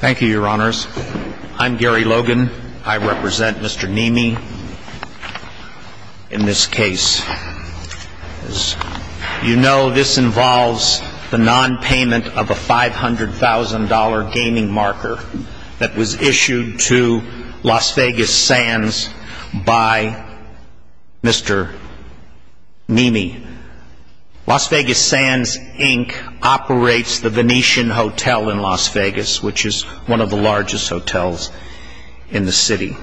Thank you, your honors. I'm Gary Logan. I represent Mr. Nehme. In this case, as you know, this involves the nonpayment of a $500,000 gaming marker that was issued to Las Vegas Sands by Mr. Nehme. Las Vegas Sands, Inc. operates the Venetian Hotel in Las Vegas, which is one of the largest hotels in the city.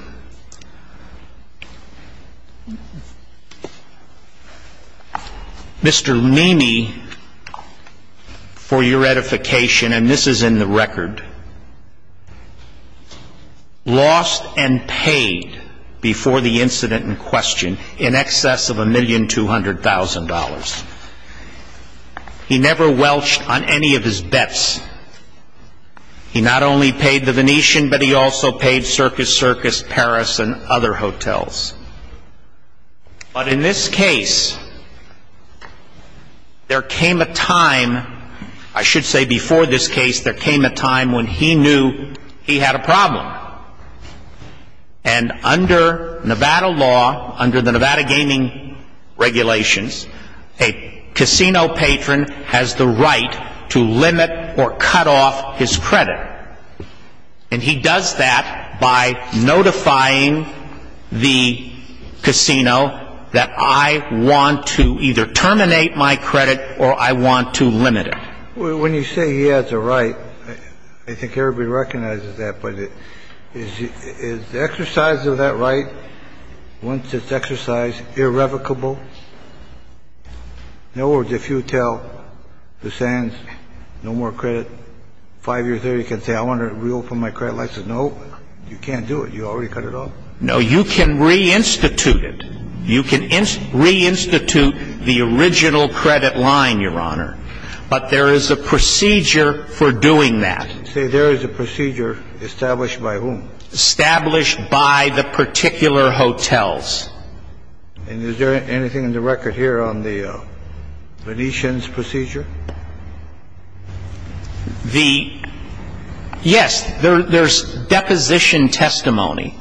Mr. Nehme, for your edification, and this is in the record, lost and paid, before the incident in question, in excess of $1,200,000. He never welched on any of his bets. He not only paid the Venetian, but he also paid Circus Circus, Paris, and other hotels. But in this case, there came a time, I should say before this case, there came a time when he knew he had a problem. And under Nevada law, under the Nevada gaming regulations, a casino patron has the right to limit or cut off his credit. And he does that by notifying the casino that I want to either terminate my credit or I want to limit it. When you say he has a right, I think everybody recognizes that. But is the exercise of that right, once it's exercised, irrevocable? In other words, if you tell the Sands, no more credit, five years later, you can say, I want to reopen my credit license. No, you can't do it. You already cut it off. No, you can reinstitute it. You can reinstitute the original credit line, Your Honor. But there is a procedure for doing that. Say there is a procedure established by whom? Established by the particular hotels. And is there anything in the record here on the Venetian's procedure? Yes, there is deposition testimony.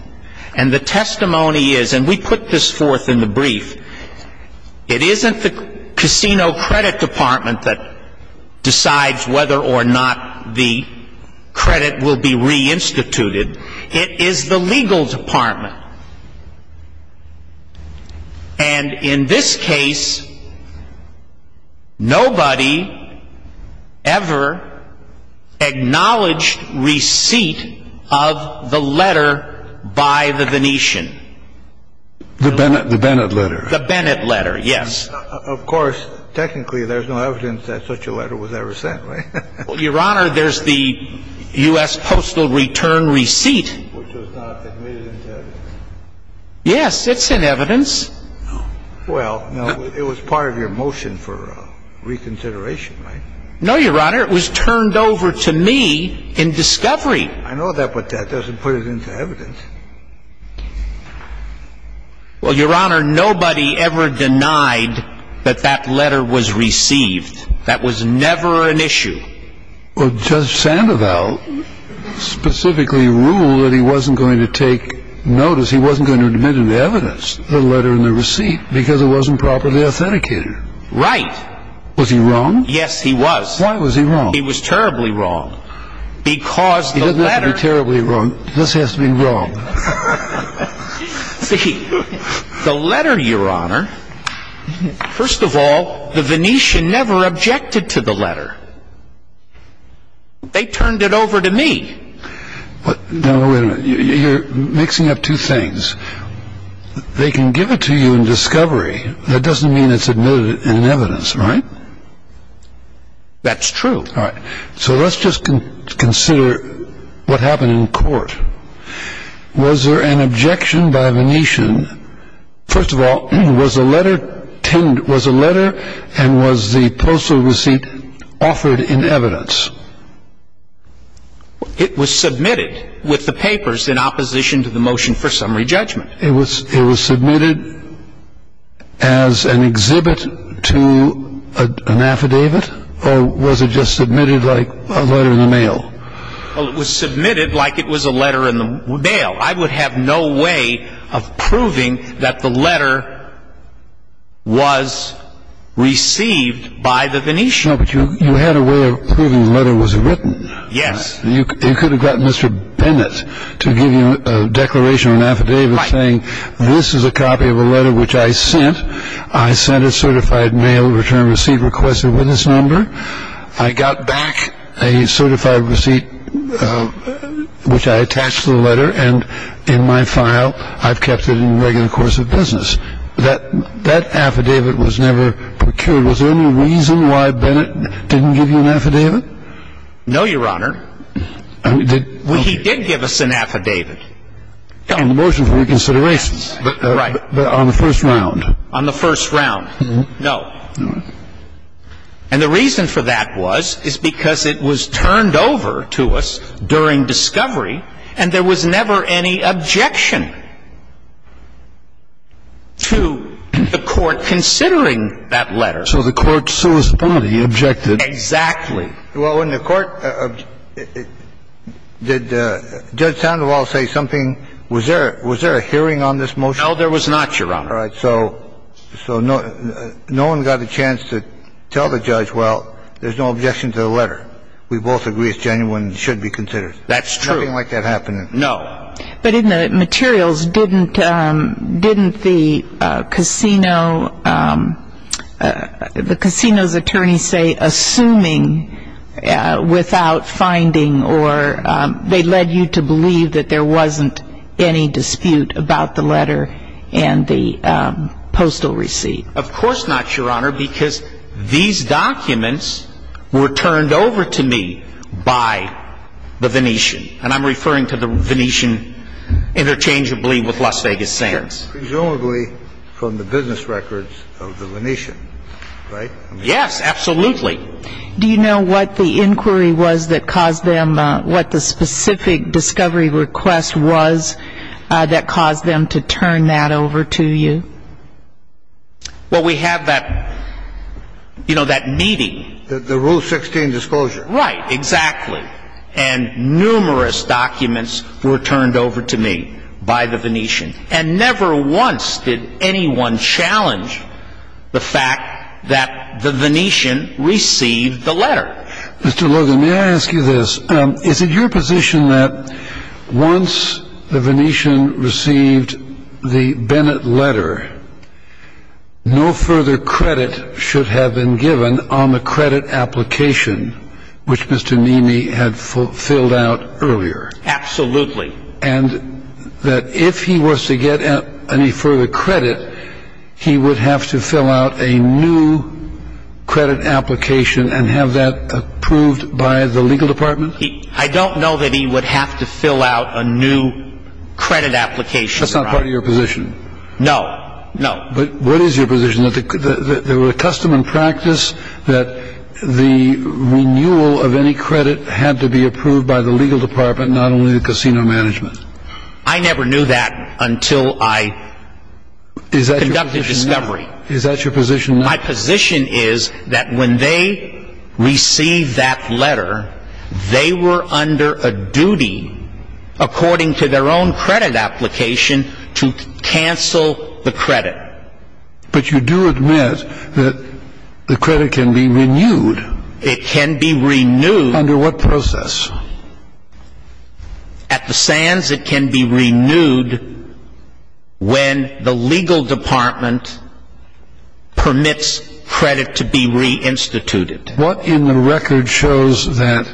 And the testimony is, and we put this forth in the brief, it isn't the casino credit department that decides whether or not the credit will be reinstituted. It is the legal department. And in this case, nobody ever acknowledged receipt of the letter by the Venetian. The Bennett letter? The Bennett letter, yes. Of course, technically, there's no evidence that such a letter was ever sent, right? Well, Your Honor, there's the U.S. postal return receipt. Which was not admitted into evidence. Yes, it's in evidence. Well, it was part of your motion for reconsideration, right? No, Your Honor, it was turned over to me in discovery. I know that, but that doesn't put it into evidence. Well, Your Honor, nobody ever denied that that letter was received. That was never an issue. Well, Judge Sandoval specifically ruled that he wasn't going to take notice, he wasn't going to admit it in evidence, the letter and the receipt, because it wasn't properly authenticated. Right. Was he wrong? Yes, he was. Why was he wrong? He was terribly wrong. He doesn't have to be terribly wrong. This has to be wrong. See, the letter, Your Honor, first of all, the Venetian never objected to the letter. They turned it over to me. Now, wait a minute. You're mixing up two things. They can give it to you in discovery. That doesn't mean it's admitted in evidence, right? That's true. All right. So let's just consider what happened in court. Was there an objection by Venetian? First of all, was the letter and was the postal receipt offered in evidence? It was submitted with the papers in opposition to the motion for summary judgment. It was submitted as an exhibit to an affidavit, or was it just submitted like a letter in the mail? Well, it was submitted like it was a letter in the mail. I would have no way of proving that the letter was received by the Venetian. No, but you had a way of proving the letter was written. Yes. You could have gotten Mr. Bennett to give you a declaration or an affidavit saying this is a copy of a letter which I sent. I sent a certified mail return receipt request a witness number. I got back a certified receipt which I attached to the letter, and in my file I've kept it in regular course of business. That affidavit was never procured. Was there any reason why Bennett didn't give you an affidavit? No, Your Honor. He did give us an affidavit. On the motion for reconsideration. Yes. Right. On the first round. On the first round. No. No. And the reason for that was is because it was turned over to us during discovery, and there was never any objection to the court considering that letter. So the court solely objected. Exactly. Well, in the court, did Judge Sandoval say something? Was there a hearing on this motion? No, there was not, Your Honor. All right. So no one got a chance to tell the judge, well, there's no objection to the letter. We both agree it's genuine and should be considered. That's true. Nothing like that happened. No. But in the materials, didn't the casino's attorneys say assuming without finding or they led you to believe that there wasn't any dispute about the letter and the postal receipt? Of course not, Your Honor, because these documents were turned over to me by the Venetian. And I'm referring to the Venetian interchangeably with Las Vegas Sands. Presumably from the business records of the Venetian, right? Yes, absolutely. Do you know what the inquiry was that caused them, what the specific discovery request was that caused them to turn that over to you? Well, we have that, you know, that meeting. The Rule 16 disclosure. Right, exactly. And numerous documents were turned over to me by the Venetian. And never once did anyone challenge the fact that the Venetian received the letter. Mr. Logan, may I ask you this? Is it your position that once the Venetian received the Bennett letter, no further credit should have been given on the credit application which Mr. Neamey had filled out earlier? Absolutely. And that if he was to get any further credit, he would have to fill out a new credit application and have that approved by the legal department? I don't know that he would have to fill out a new credit application. That's not part of your position? No, no. But what is your position, that there were a custom and practice that the renewal of any credit had to be approved by the legal department, not only the casino management? I never knew that until I conducted discovery. Is that your position? My position is that when they received that letter, they were under a duty, according to their own credit application, to cancel the credit. But you do admit that the credit can be renewed. It can be renewed. Under what process? At the Sands, it can be renewed when the legal department permits credit to be reinstituted. What in the record shows that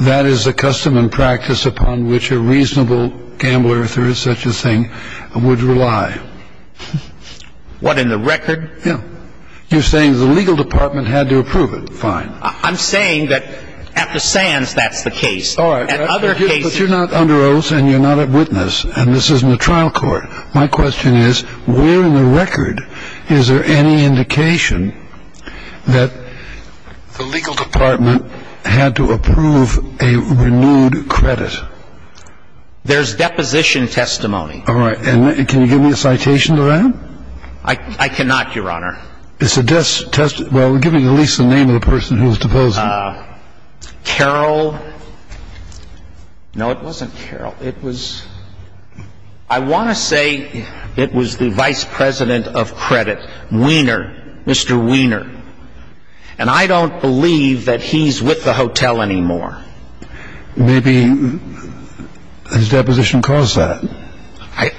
that is a custom and practice upon which a reasonable gambler, if there is such a thing, would rely? What in the record? Yeah. You're saying the legal department had to approve it. Fine. I'm saying that at the Sands, that's the case. All right. But you're not under oath and you're not a witness, and this isn't a trial court. My question is, where in the record is there any indication that the legal department had to approve a renewed credit? There's deposition testimony. All right. I cannot, Your Honor. It's a testimony. Well, give me at least the name of the person who's deposing. Carol. No, it wasn't Carol. It was ‑‑ I want to say it was the vice president of credit, Weiner, Mr. Weiner. And I don't believe that he's with the hotel anymore. Maybe his deposition caused that. I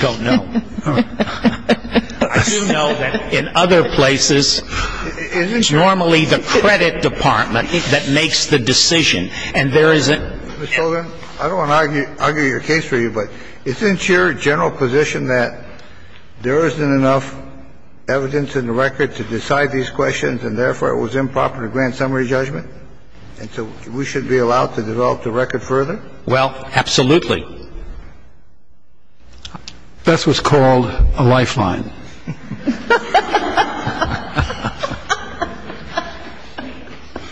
don't know. I do know that in other places, it's normally the credit department that makes the decision. And there is a ‑‑ Mr. Hogan, I don't want to argue your case for you, but isn't your general position that there isn't enough evidence in the record to decide these questions and, therefore, it was improper to grant summary judgment? And so we should be allowed to develop the record further? Well, absolutely. That's what's called a lifeline.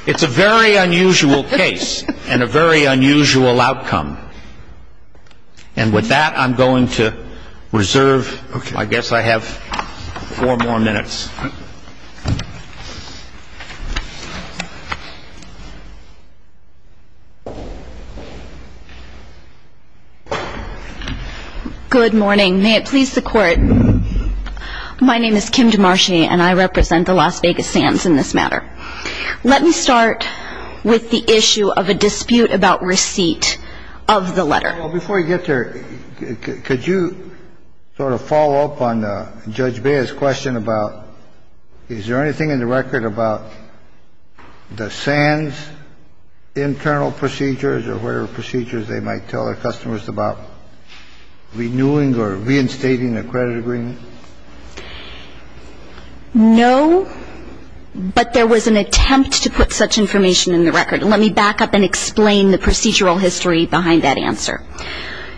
It's a very unusual case and a very unusual outcome. And with that, I'm going to reserve. I guess I have four more minutes. Good morning. May it please the Court. My name is Kim DeMarchi, and I represent the Las Vegas Sands in this matter. Let me start with the issue of a dispute about receipt of the letter. Well, before you get there, could you sort of follow up on Judge Bea's question about, is there anything in the record about the Sands internal procedures or whatever procedures they might tell their customers about renewing or reinstating a credit agreement? No, but there was an attempt to put such information in the record. Let me back up and explain the procedural history behind that answer.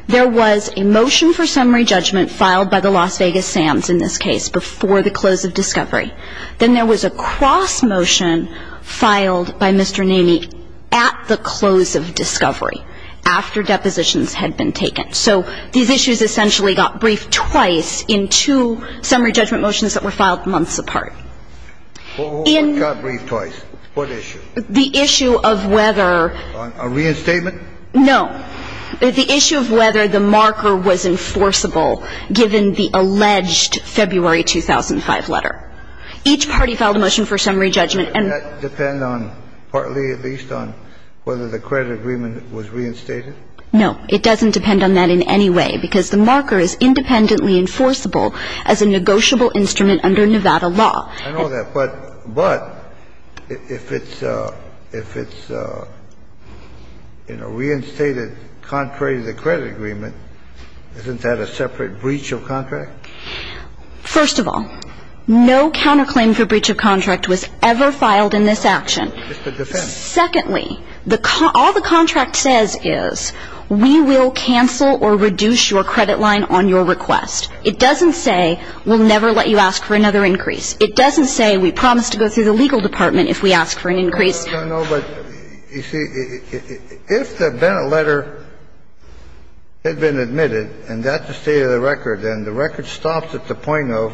There was a motion for summary judgment filed by the Las Vegas Sands in this case before the close of discovery. Then there was a cross motion filed by Mr. Naney at the close of discovery after depositions had been taken. So these issues essentially got briefed twice in two summary judgment motions that were filed months apart. What got briefed twice? What issue? The issue of whether the marker was enforceable given the alleged February 2005 letter. Each party filed a motion for summary judgment. And that depends on, partly at least, on whether the credit agreement was reinstated? No. It doesn't depend on that in any way because the marker is independently enforceable as a negotiable instrument under Nevada law. I know that. But if it's, you know, reinstated contrary to the credit agreement, isn't that a separate breach of contract? First of all, no counterclaim for breach of contract was ever filed in this action. It's the defense. Secondly, all the contract says is we will cancel or reduce your credit line on your request. It doesn't say we'll never let you ask for another increase. It doesn't say we promise to go through the legal department if we ask for an increase. No, no, no. But, you see, if the Bennett letter had been admitted and that's the state of the record, then the record stops at the point of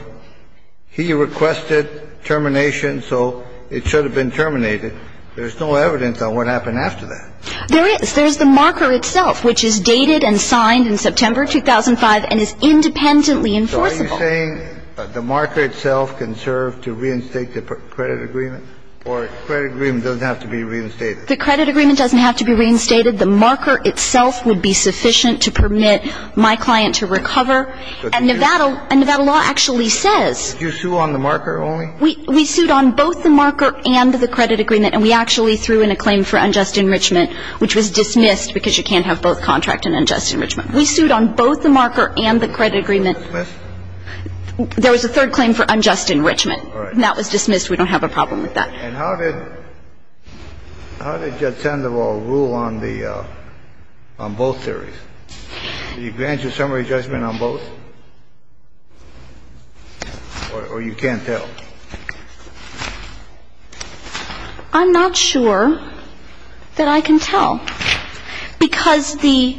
he requested termination, so it should have been terminated. There's no evidence on what happened after that. There is. There's the marker itself, which is dated and signed in September 2005 and is independently enforceable. Are you saying the marker itself can serve to reinstate the credit agreement, or the credit agreement doesn't have to be reinstated? The credit agreement doesn't have to be reinstated. The marker itself would be sufficient to permit my client to recover. And Nevada law actually says. Did you sue on the marker only? We sued on both the marker and the credit agreement, and we actually threw in a claim for unjust enrichment, which was dismissed because you can't have both contract and unjust enrichment. We sued on both the marker and the credit agreement. Was that dismissed? There was a third claim for unjust enrichment. All right. And that was dismissed. We don't have a problem with that. And how did Judge Sandoval rule on the – on both theories? Did he grant you a summary judgment on both? Or you can't tell? I'm not sure that I can tell. Because the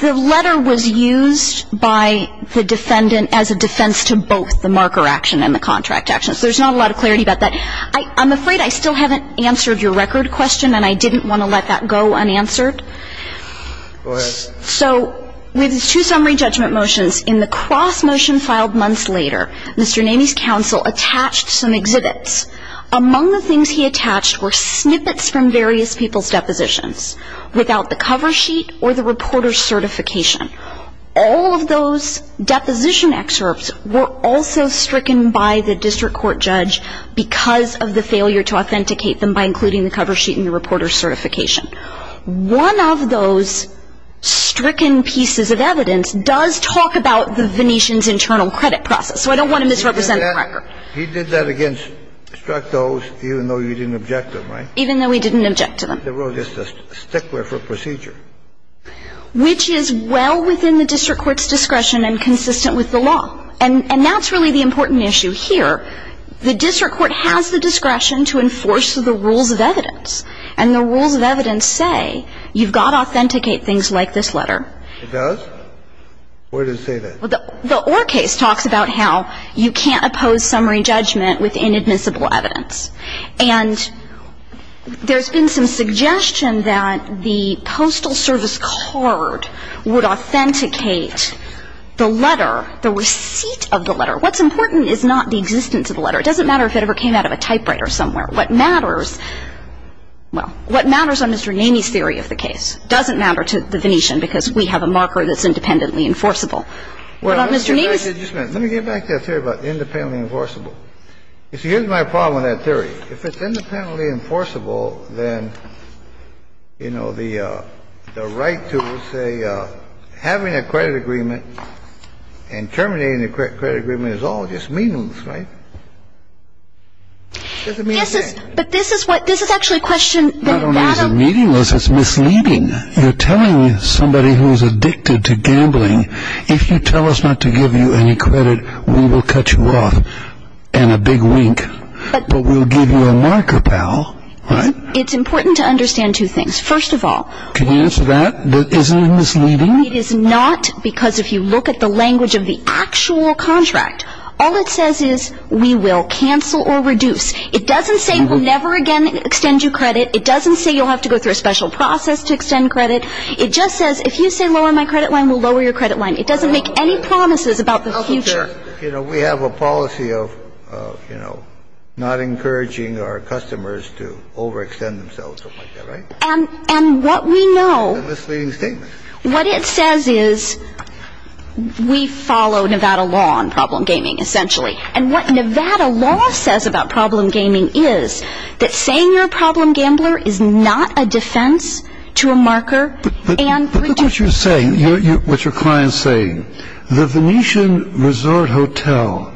letter was used by the defendant as a defense to both the marker action and the contract action. So there's not a lot of clarity about that. I'm afraid I still haven't answered your record question, and I didn't want to let that go unanswered. Go ahead. So with two summary judgment motions, in the cross motion filed months later, Mr. Naney's counsel attached some exhibits. Among the things he attached were snippets from various people's depositions without the cover sheet or the reporter's certification. All of those deposition excerpts were also stricken by the district court judge because of the failure to authenticate them by including the cover sheet and the reporter's certification. One of those stricken pieces of evidence does talk about the Venetian's internal credit process. So I don't want to misrepresent the record. He did that against struck those even though you didn't object to them, right? Even though we didn't object to them. There was just a stickler for procedure. Which is well within the district court's discretion and consistent with the law. And that's really the important issue here. The district court has the discretion to enforce the rules of evidence, and the rules of evidence say you've got to authenticate things like this letter. It does? Where does it say that? Well, the Orr case talks about how you can't oppose summary judgment with inadmissible evidence. And there's been some suggestion that the Postal Service card would authenticate the letter, the receipt of the letter. What's important is not the existence of the letter. It doesn't matter if it ever came out of a typewriter somewhere. What matters, well, what matters on Mr. Naney's theory of the case doesn't matter to the Venetian because we have a marker that's independently enforceable. What about Mr. Naney's? Let me get back to that theory about independently enforceable. You see, here's my problem with that theory. If it's independently enforceable, then, you know, the right to, say, having a credit agreement and terminating the credit agreement is all just meaningless, right? It doesn't mean a thing. Yes, but this is what this is actually a question that Adam. Not only is it meaningless, it's misleading. You're telling somebody who's addicted to gambling, if you tell us not to give you any credit, we will cut you off and a big wink, but we'll give you a marker, pal, right? It's important to understand two things. First of all. Can you answer that? Isn't it misleading? It is not because if you look at the language of the actual contract, all it says is we will cancel or reduce. It doesn't say we'll never again extend you credit. It doesn't say you'll have to go through a special process to extend credit. It just says if you say lower my credit line, we'll lower your credit line. It doesn't make any promises about the future. You know, we have a policy of, you know, not encouraging our customers to overextend themselves. And what we know, what it says is we follow Nevada law on problem gaming essentially. And what Nevada law says about problem gaming is that saying you're a problem gambler is not a defense to a marker. But look what you're saying, what your client's saying. The Venetian Resort Hotel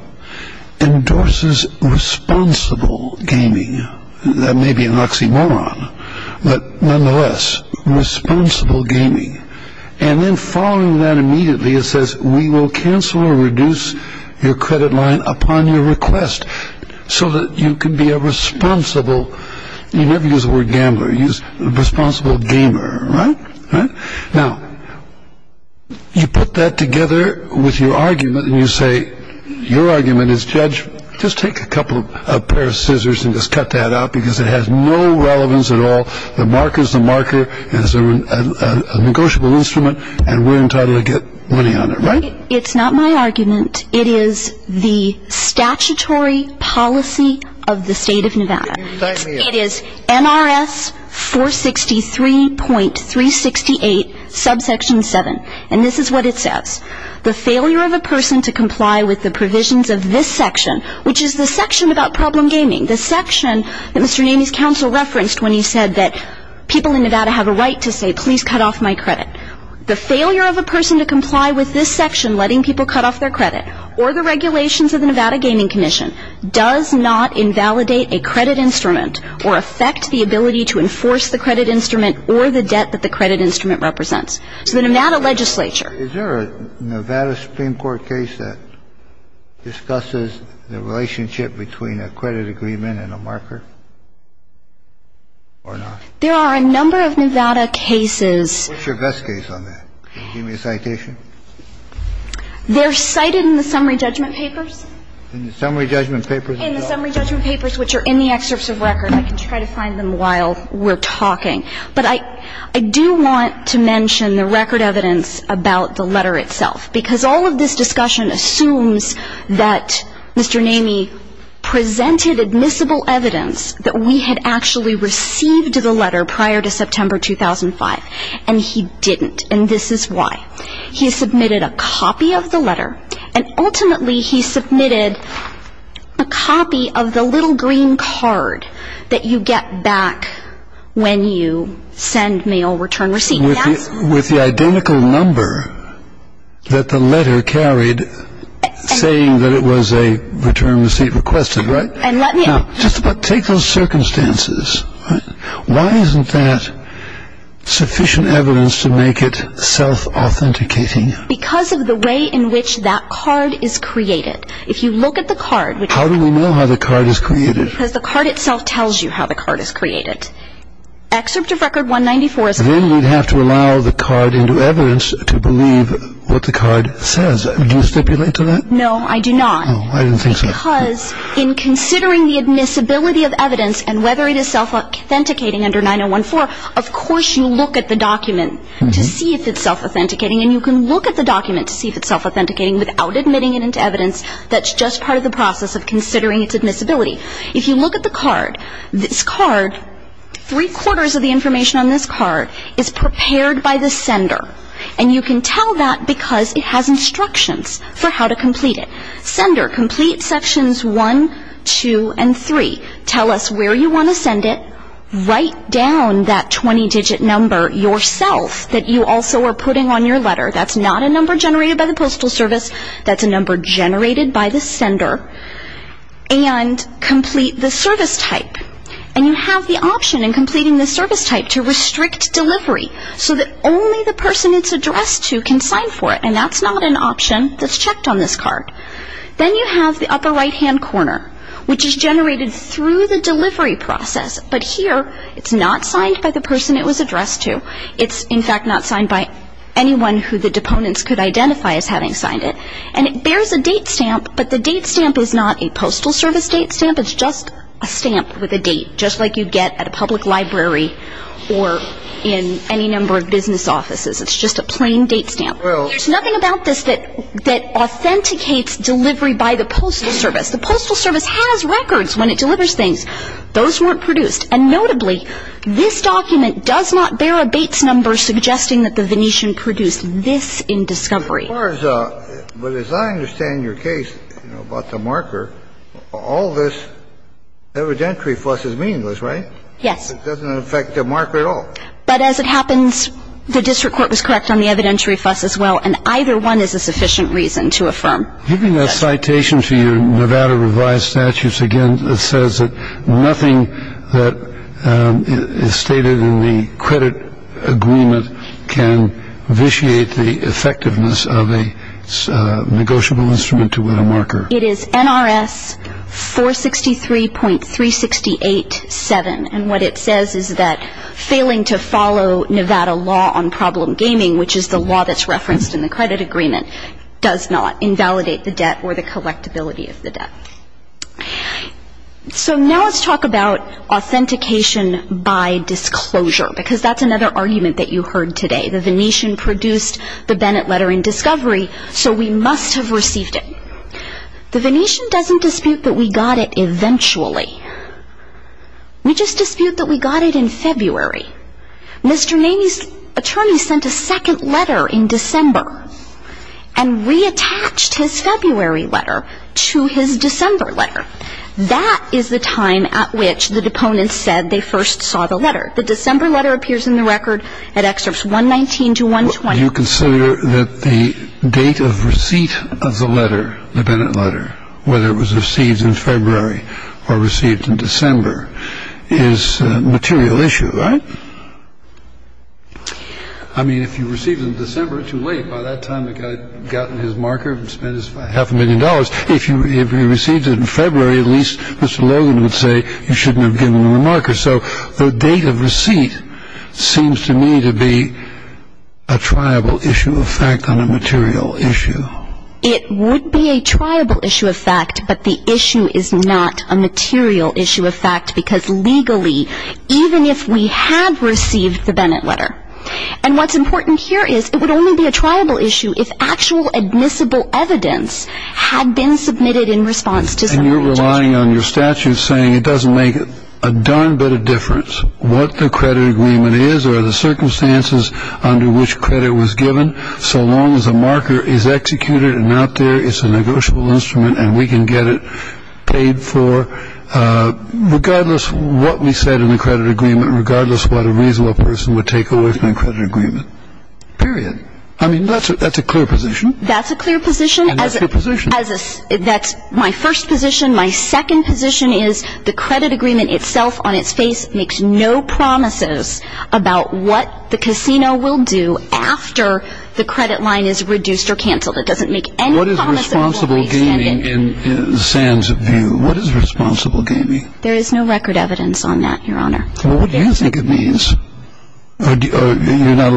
endorses responsible gaming. That may be an oxymoron, but nonetheless, responsible gaming. And then following that immediately, it says we will cancel or reduce your credit line upon your request so that you can be a responsible. You never use the word gambler. Use responsible gamer. Right. Now, you put that together with your argument and you say your argument is judge. Just take a couple of a pair of scissors and just cut that out because it has no relevance at all. The marker's the marker. It's a negotiable instrument, and we're entitled to get money on it, right? It's not my argument. It is the statutory policy of the state of Nevada. It is NRS 463.368, subsection 7. And this is what it says. The failure of a person to comply with the provisions of this section, which is the section about problem gaming, the section that Mr. Namie's counsel referenced when he said that people in Nevada have a right to say, please cut off my credit. The failure of a person to comply with this section letting people cut off their credit or the regulations of the Nevada Gaming Commission does not invalidate a credit instrument or affect the ability to enforce the credit instrument or the debt that the credit instrument represents. So the Nevada legislature. Is there a Nevada Supreme Court case that discusses the relationship between a credit agreement and a marker or not? There are a number of Nevada cases. What's your best case on that? Can you give me a citation? They're cited in the summary judgment papers. In the summary judgment papers? In the summary judgment papers, which are in the excerpts of record. I can try to find them while we're talking. But I do want to mention the record evidence about the letter itself. Because all of this discussion assumes that Mr. Namie presented admissible evidence that we had actually received the letter prior to September 2005. And he didn't. And this is why. He submitted a copy of the letter. And ultimately he submitted a copy of the little green card that you get back when you send mail, return receipt. With the identical number that the letter carried saying that it was a return receipt requested, right? And let me. Just take those circumstances. Why isn't that sufficient evidence to make it self-authenticating? Because of the way in which that card is created. If you look at the card. How do we know how the card is created? Because the card itself tells you how the card is created. Excerpt of record 194. Then we'd have to allow the card into evidence to believe what the card says. Do you stipulate to that? No, I do not. I didn't think so. Because in considering the admissibility of evidence and whether it is self-authenticating under 9014, of course you look at the document to see if it's self-authenticating. And you can look at the document to see if it's self-authenticating without admitting it into evidence. That's just part of the process of considering its admissibility. If you look at the card, this card, three-quarters of the information on this card is prepared by the sender. And you can tell that because it has instructions for how to complete it. Sender, complete sections one, two, and three. Tell us where you want to send it. Write down that 20-digit number yourself that you also are putting on your letter. That's not a number generated by the Postal Service. That's a number generated by the sender. And complete the service type. And you have the option in completing the service type to restrict delivery so that only the person it's addressed to can sign for it. And that's not an option that's checked on this card. Then you have the upper right-hand corner, which is generated through the delivery process. But here, it's not signed by the person it was addressed to. It's, in fact, not signed by anyone who the deponents could identify as having signed it. And it bears a date stamp, but the date stamp is not a Postal Service date stamp. It's just a stamp with a date, just like you get at a public library or in any number of business offices. It's just a plain date stamp. There's nothing about this that authenticates delivery by the Postal Service. The Postal Service has records when it delivers things. Those weren't produced. And notably, this document does not bear a Bates number suggesting that the Venetian produced this in discovery. But as I understand your case about the marker, all this evidentiary fuss is meaningless, right? Yes. It doesn't affect the marker at all. But as it happens, the district court was correct on the evidentiary fuss as well, and either one is a sufficient reason to affirm that. Even the citation to your Nevada revised statutes, again, says that nothing that is stated in the credit agreement can vitiate the effectiveness of a negotiable instrument with a marker. It is NRS 463.368-7. And what it says is that failing to follow Nevada law on problem gaming, which is the law that's referenced in the credit agreement, does not invalidate the debt or the collectability of the debt. So now let's talk about authentication by disclosure, because that's another argument that you heard today. The Venetian produced the Bennett letter in discovery, so we must have received it. The Venetian doesn't dispute that we got it eventually. We just dispute that we got it in February. Mr. Naney's attorney sent a second letter in December and reattached his February letter to his December letter. That is the time at which the deponents said they first saw the letter. The December letter appears in the record at excerpts 119 to 120. You consider that the date of receipt of the letter, the Bennett letter, whether it was received in February or received in December, is a material issue, right? I mean, if you received in December, too late. By that time, the guy had gotten his marker and spent half a million dollars. If you received it in February, at least Mr. Logan would say you shouldn't have given him a marker. So the date of receipt seems to me to be a triable issue of fact on a material issue. It would be a triable issue of fact, but the issue is not a material issue of fact, because legally, even if we had received the Bennett letter, and what's important here is it would only be a triable issue if actual admissible evidence had been submitted in response to some of the charges. So you're relying on your statute saying it doesn't make a darn bit of difference what the credit agreement is or the circumstances under which credit was given, so long as a marker is executed and out there, it's a negotiable instrument and we can get it paid for, regardless of what we said in the credit agreement, regardless of what a reasonable person would take away from the credit agreement, period. I mean, that's a clear position. That's a clear position. And that's your position. That's my first position. My second position is the credit agreement itself on its face makes no promises about what the casino will do after the credit line is reduced or canceled. It doesn't make any promises. What is responsible gaming in Sam's view? What is responsible gaming? There is no record evidence on that, Your Honor. Well, what do you think it means? You're not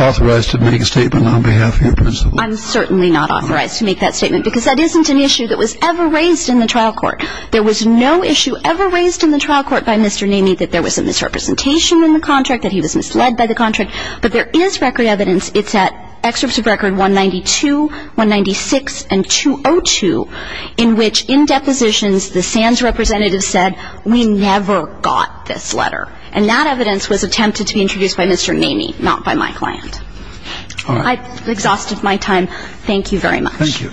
authorized to make a statement on behalf of your principal. I'm certainly not authorized to make that statement because that isn't an issue that was ever raised in the trial court. There was no issue ever raised in the trial court by Mr. Namey that there was a misrepresentation in the contract, that he was misled by the contract. But there is record evidence. It's at excerpts of record 192, 196, and 202 in which in depositions the SANS representative said, we never got this letter. And that evidence was attempted to be introduced by Mr. Namey, not by my client. I've exhausted my time. Thank you very much. Thank you.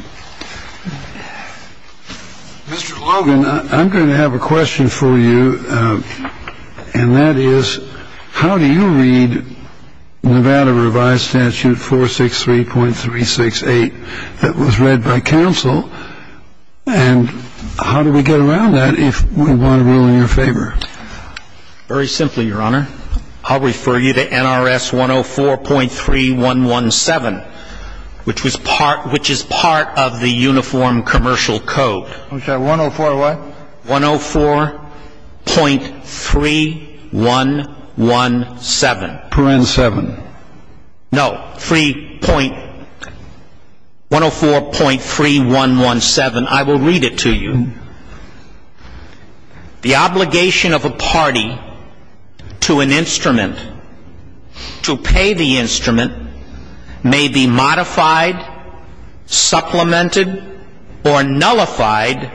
Mr. Logan, I'm going to have a question for you, and that is, how do you read Nevada Revised Statute 463.368 that was read by counsel, and how do we get around that if we want to rule in your favor? Very simply, Your Honor. I'll refer you to NRS 104.3117, which is part of the Uniform Commercial Code. Okay. 104 what? 104.3117. Parent seven. No. Free point. 104.3117. I will read it to you. The obligation of a party to an instrument, to pay the instrument, may be modified, supplemented, or nullified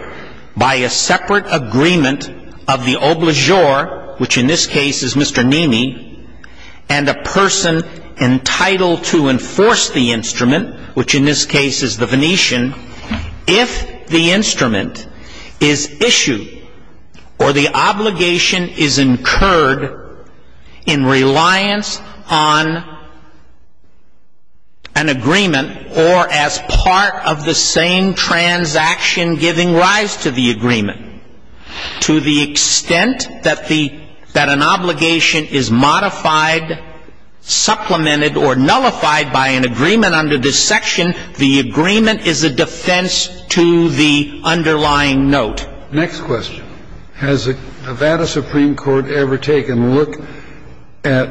by a separate agreement of the obligeur, which in this case is Mr. Namey, and a person entitled to enforce the instrument, which in this case is the Venetian, if the instrument is issued or the obligation is incurred in reliance on an agreement or as part of the same transaction giving rise to the agreement, to the extent that an obligation is modified, supplemented, or nullified by an agreement under this section, the agreement is a defense to the underlying note. Next question. Has the Nevada Supreme Court ever taken a look at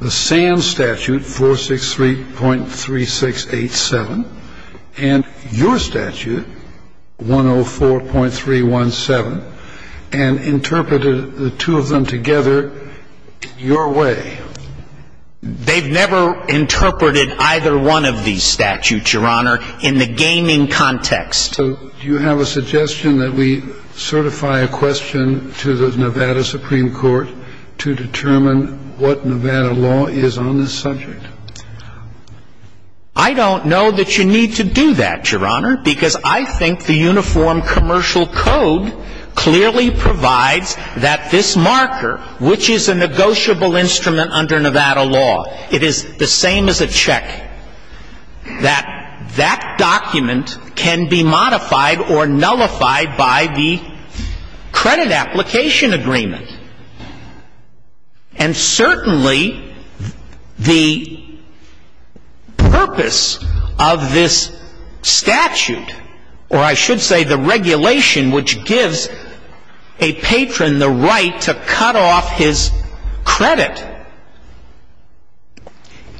the Sands Statute 463.3687 and your statute 104.317 and interpreted the two of them together your way? They've never interpreted either one of these statutes, Your Honor, in the gaming context. So do you have a suggestion that we certify a question to the Nevada Supreme Court to determine what Nevada law is on this subject? I don't know that you need to do that, Your Honor, because I think the Uniform Commercial Code clearly provides that this marker, which is a negotiable instrument under Nevada law, it is the same as a check, that that document can be modified or nullified by the credit application agreement. And certainly the purpose of this statute, or I should say the regulation, which gives a patron the right to cut off his credit,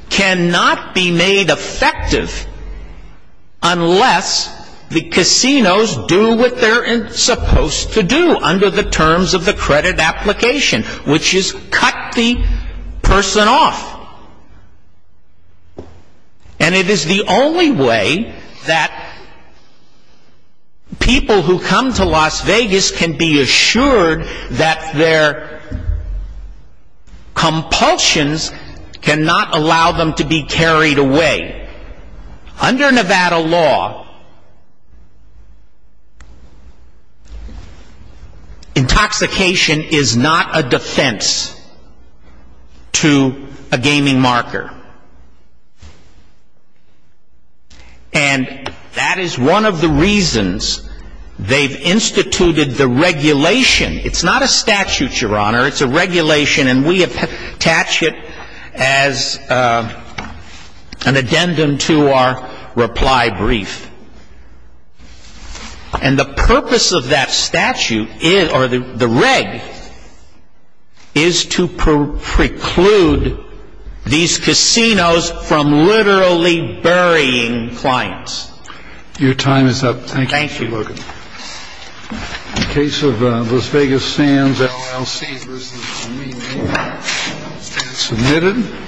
cannot be made effective unless the casinos do what they're supposed to do under the terms of the credit application, which is cut the person off. And it is the only way that people who come to Las Vegas can be assured that their compulsions cannot allow them to be carried away. Under Nevada law, intoxication is not a defense to a gaming marker. And that is one of the reasons they've instituted the regulation. It's not a statute, Your Honor. It's a regulation, and we attach it as an addendum to our reply brief. And the purpose of that statute, or the reg, is to preclude these casinos from literally burying clients. Your time is up. Thank you. Thank you, Morgan. The case of Las Vegas Sands LLC versus Mena. Submitted.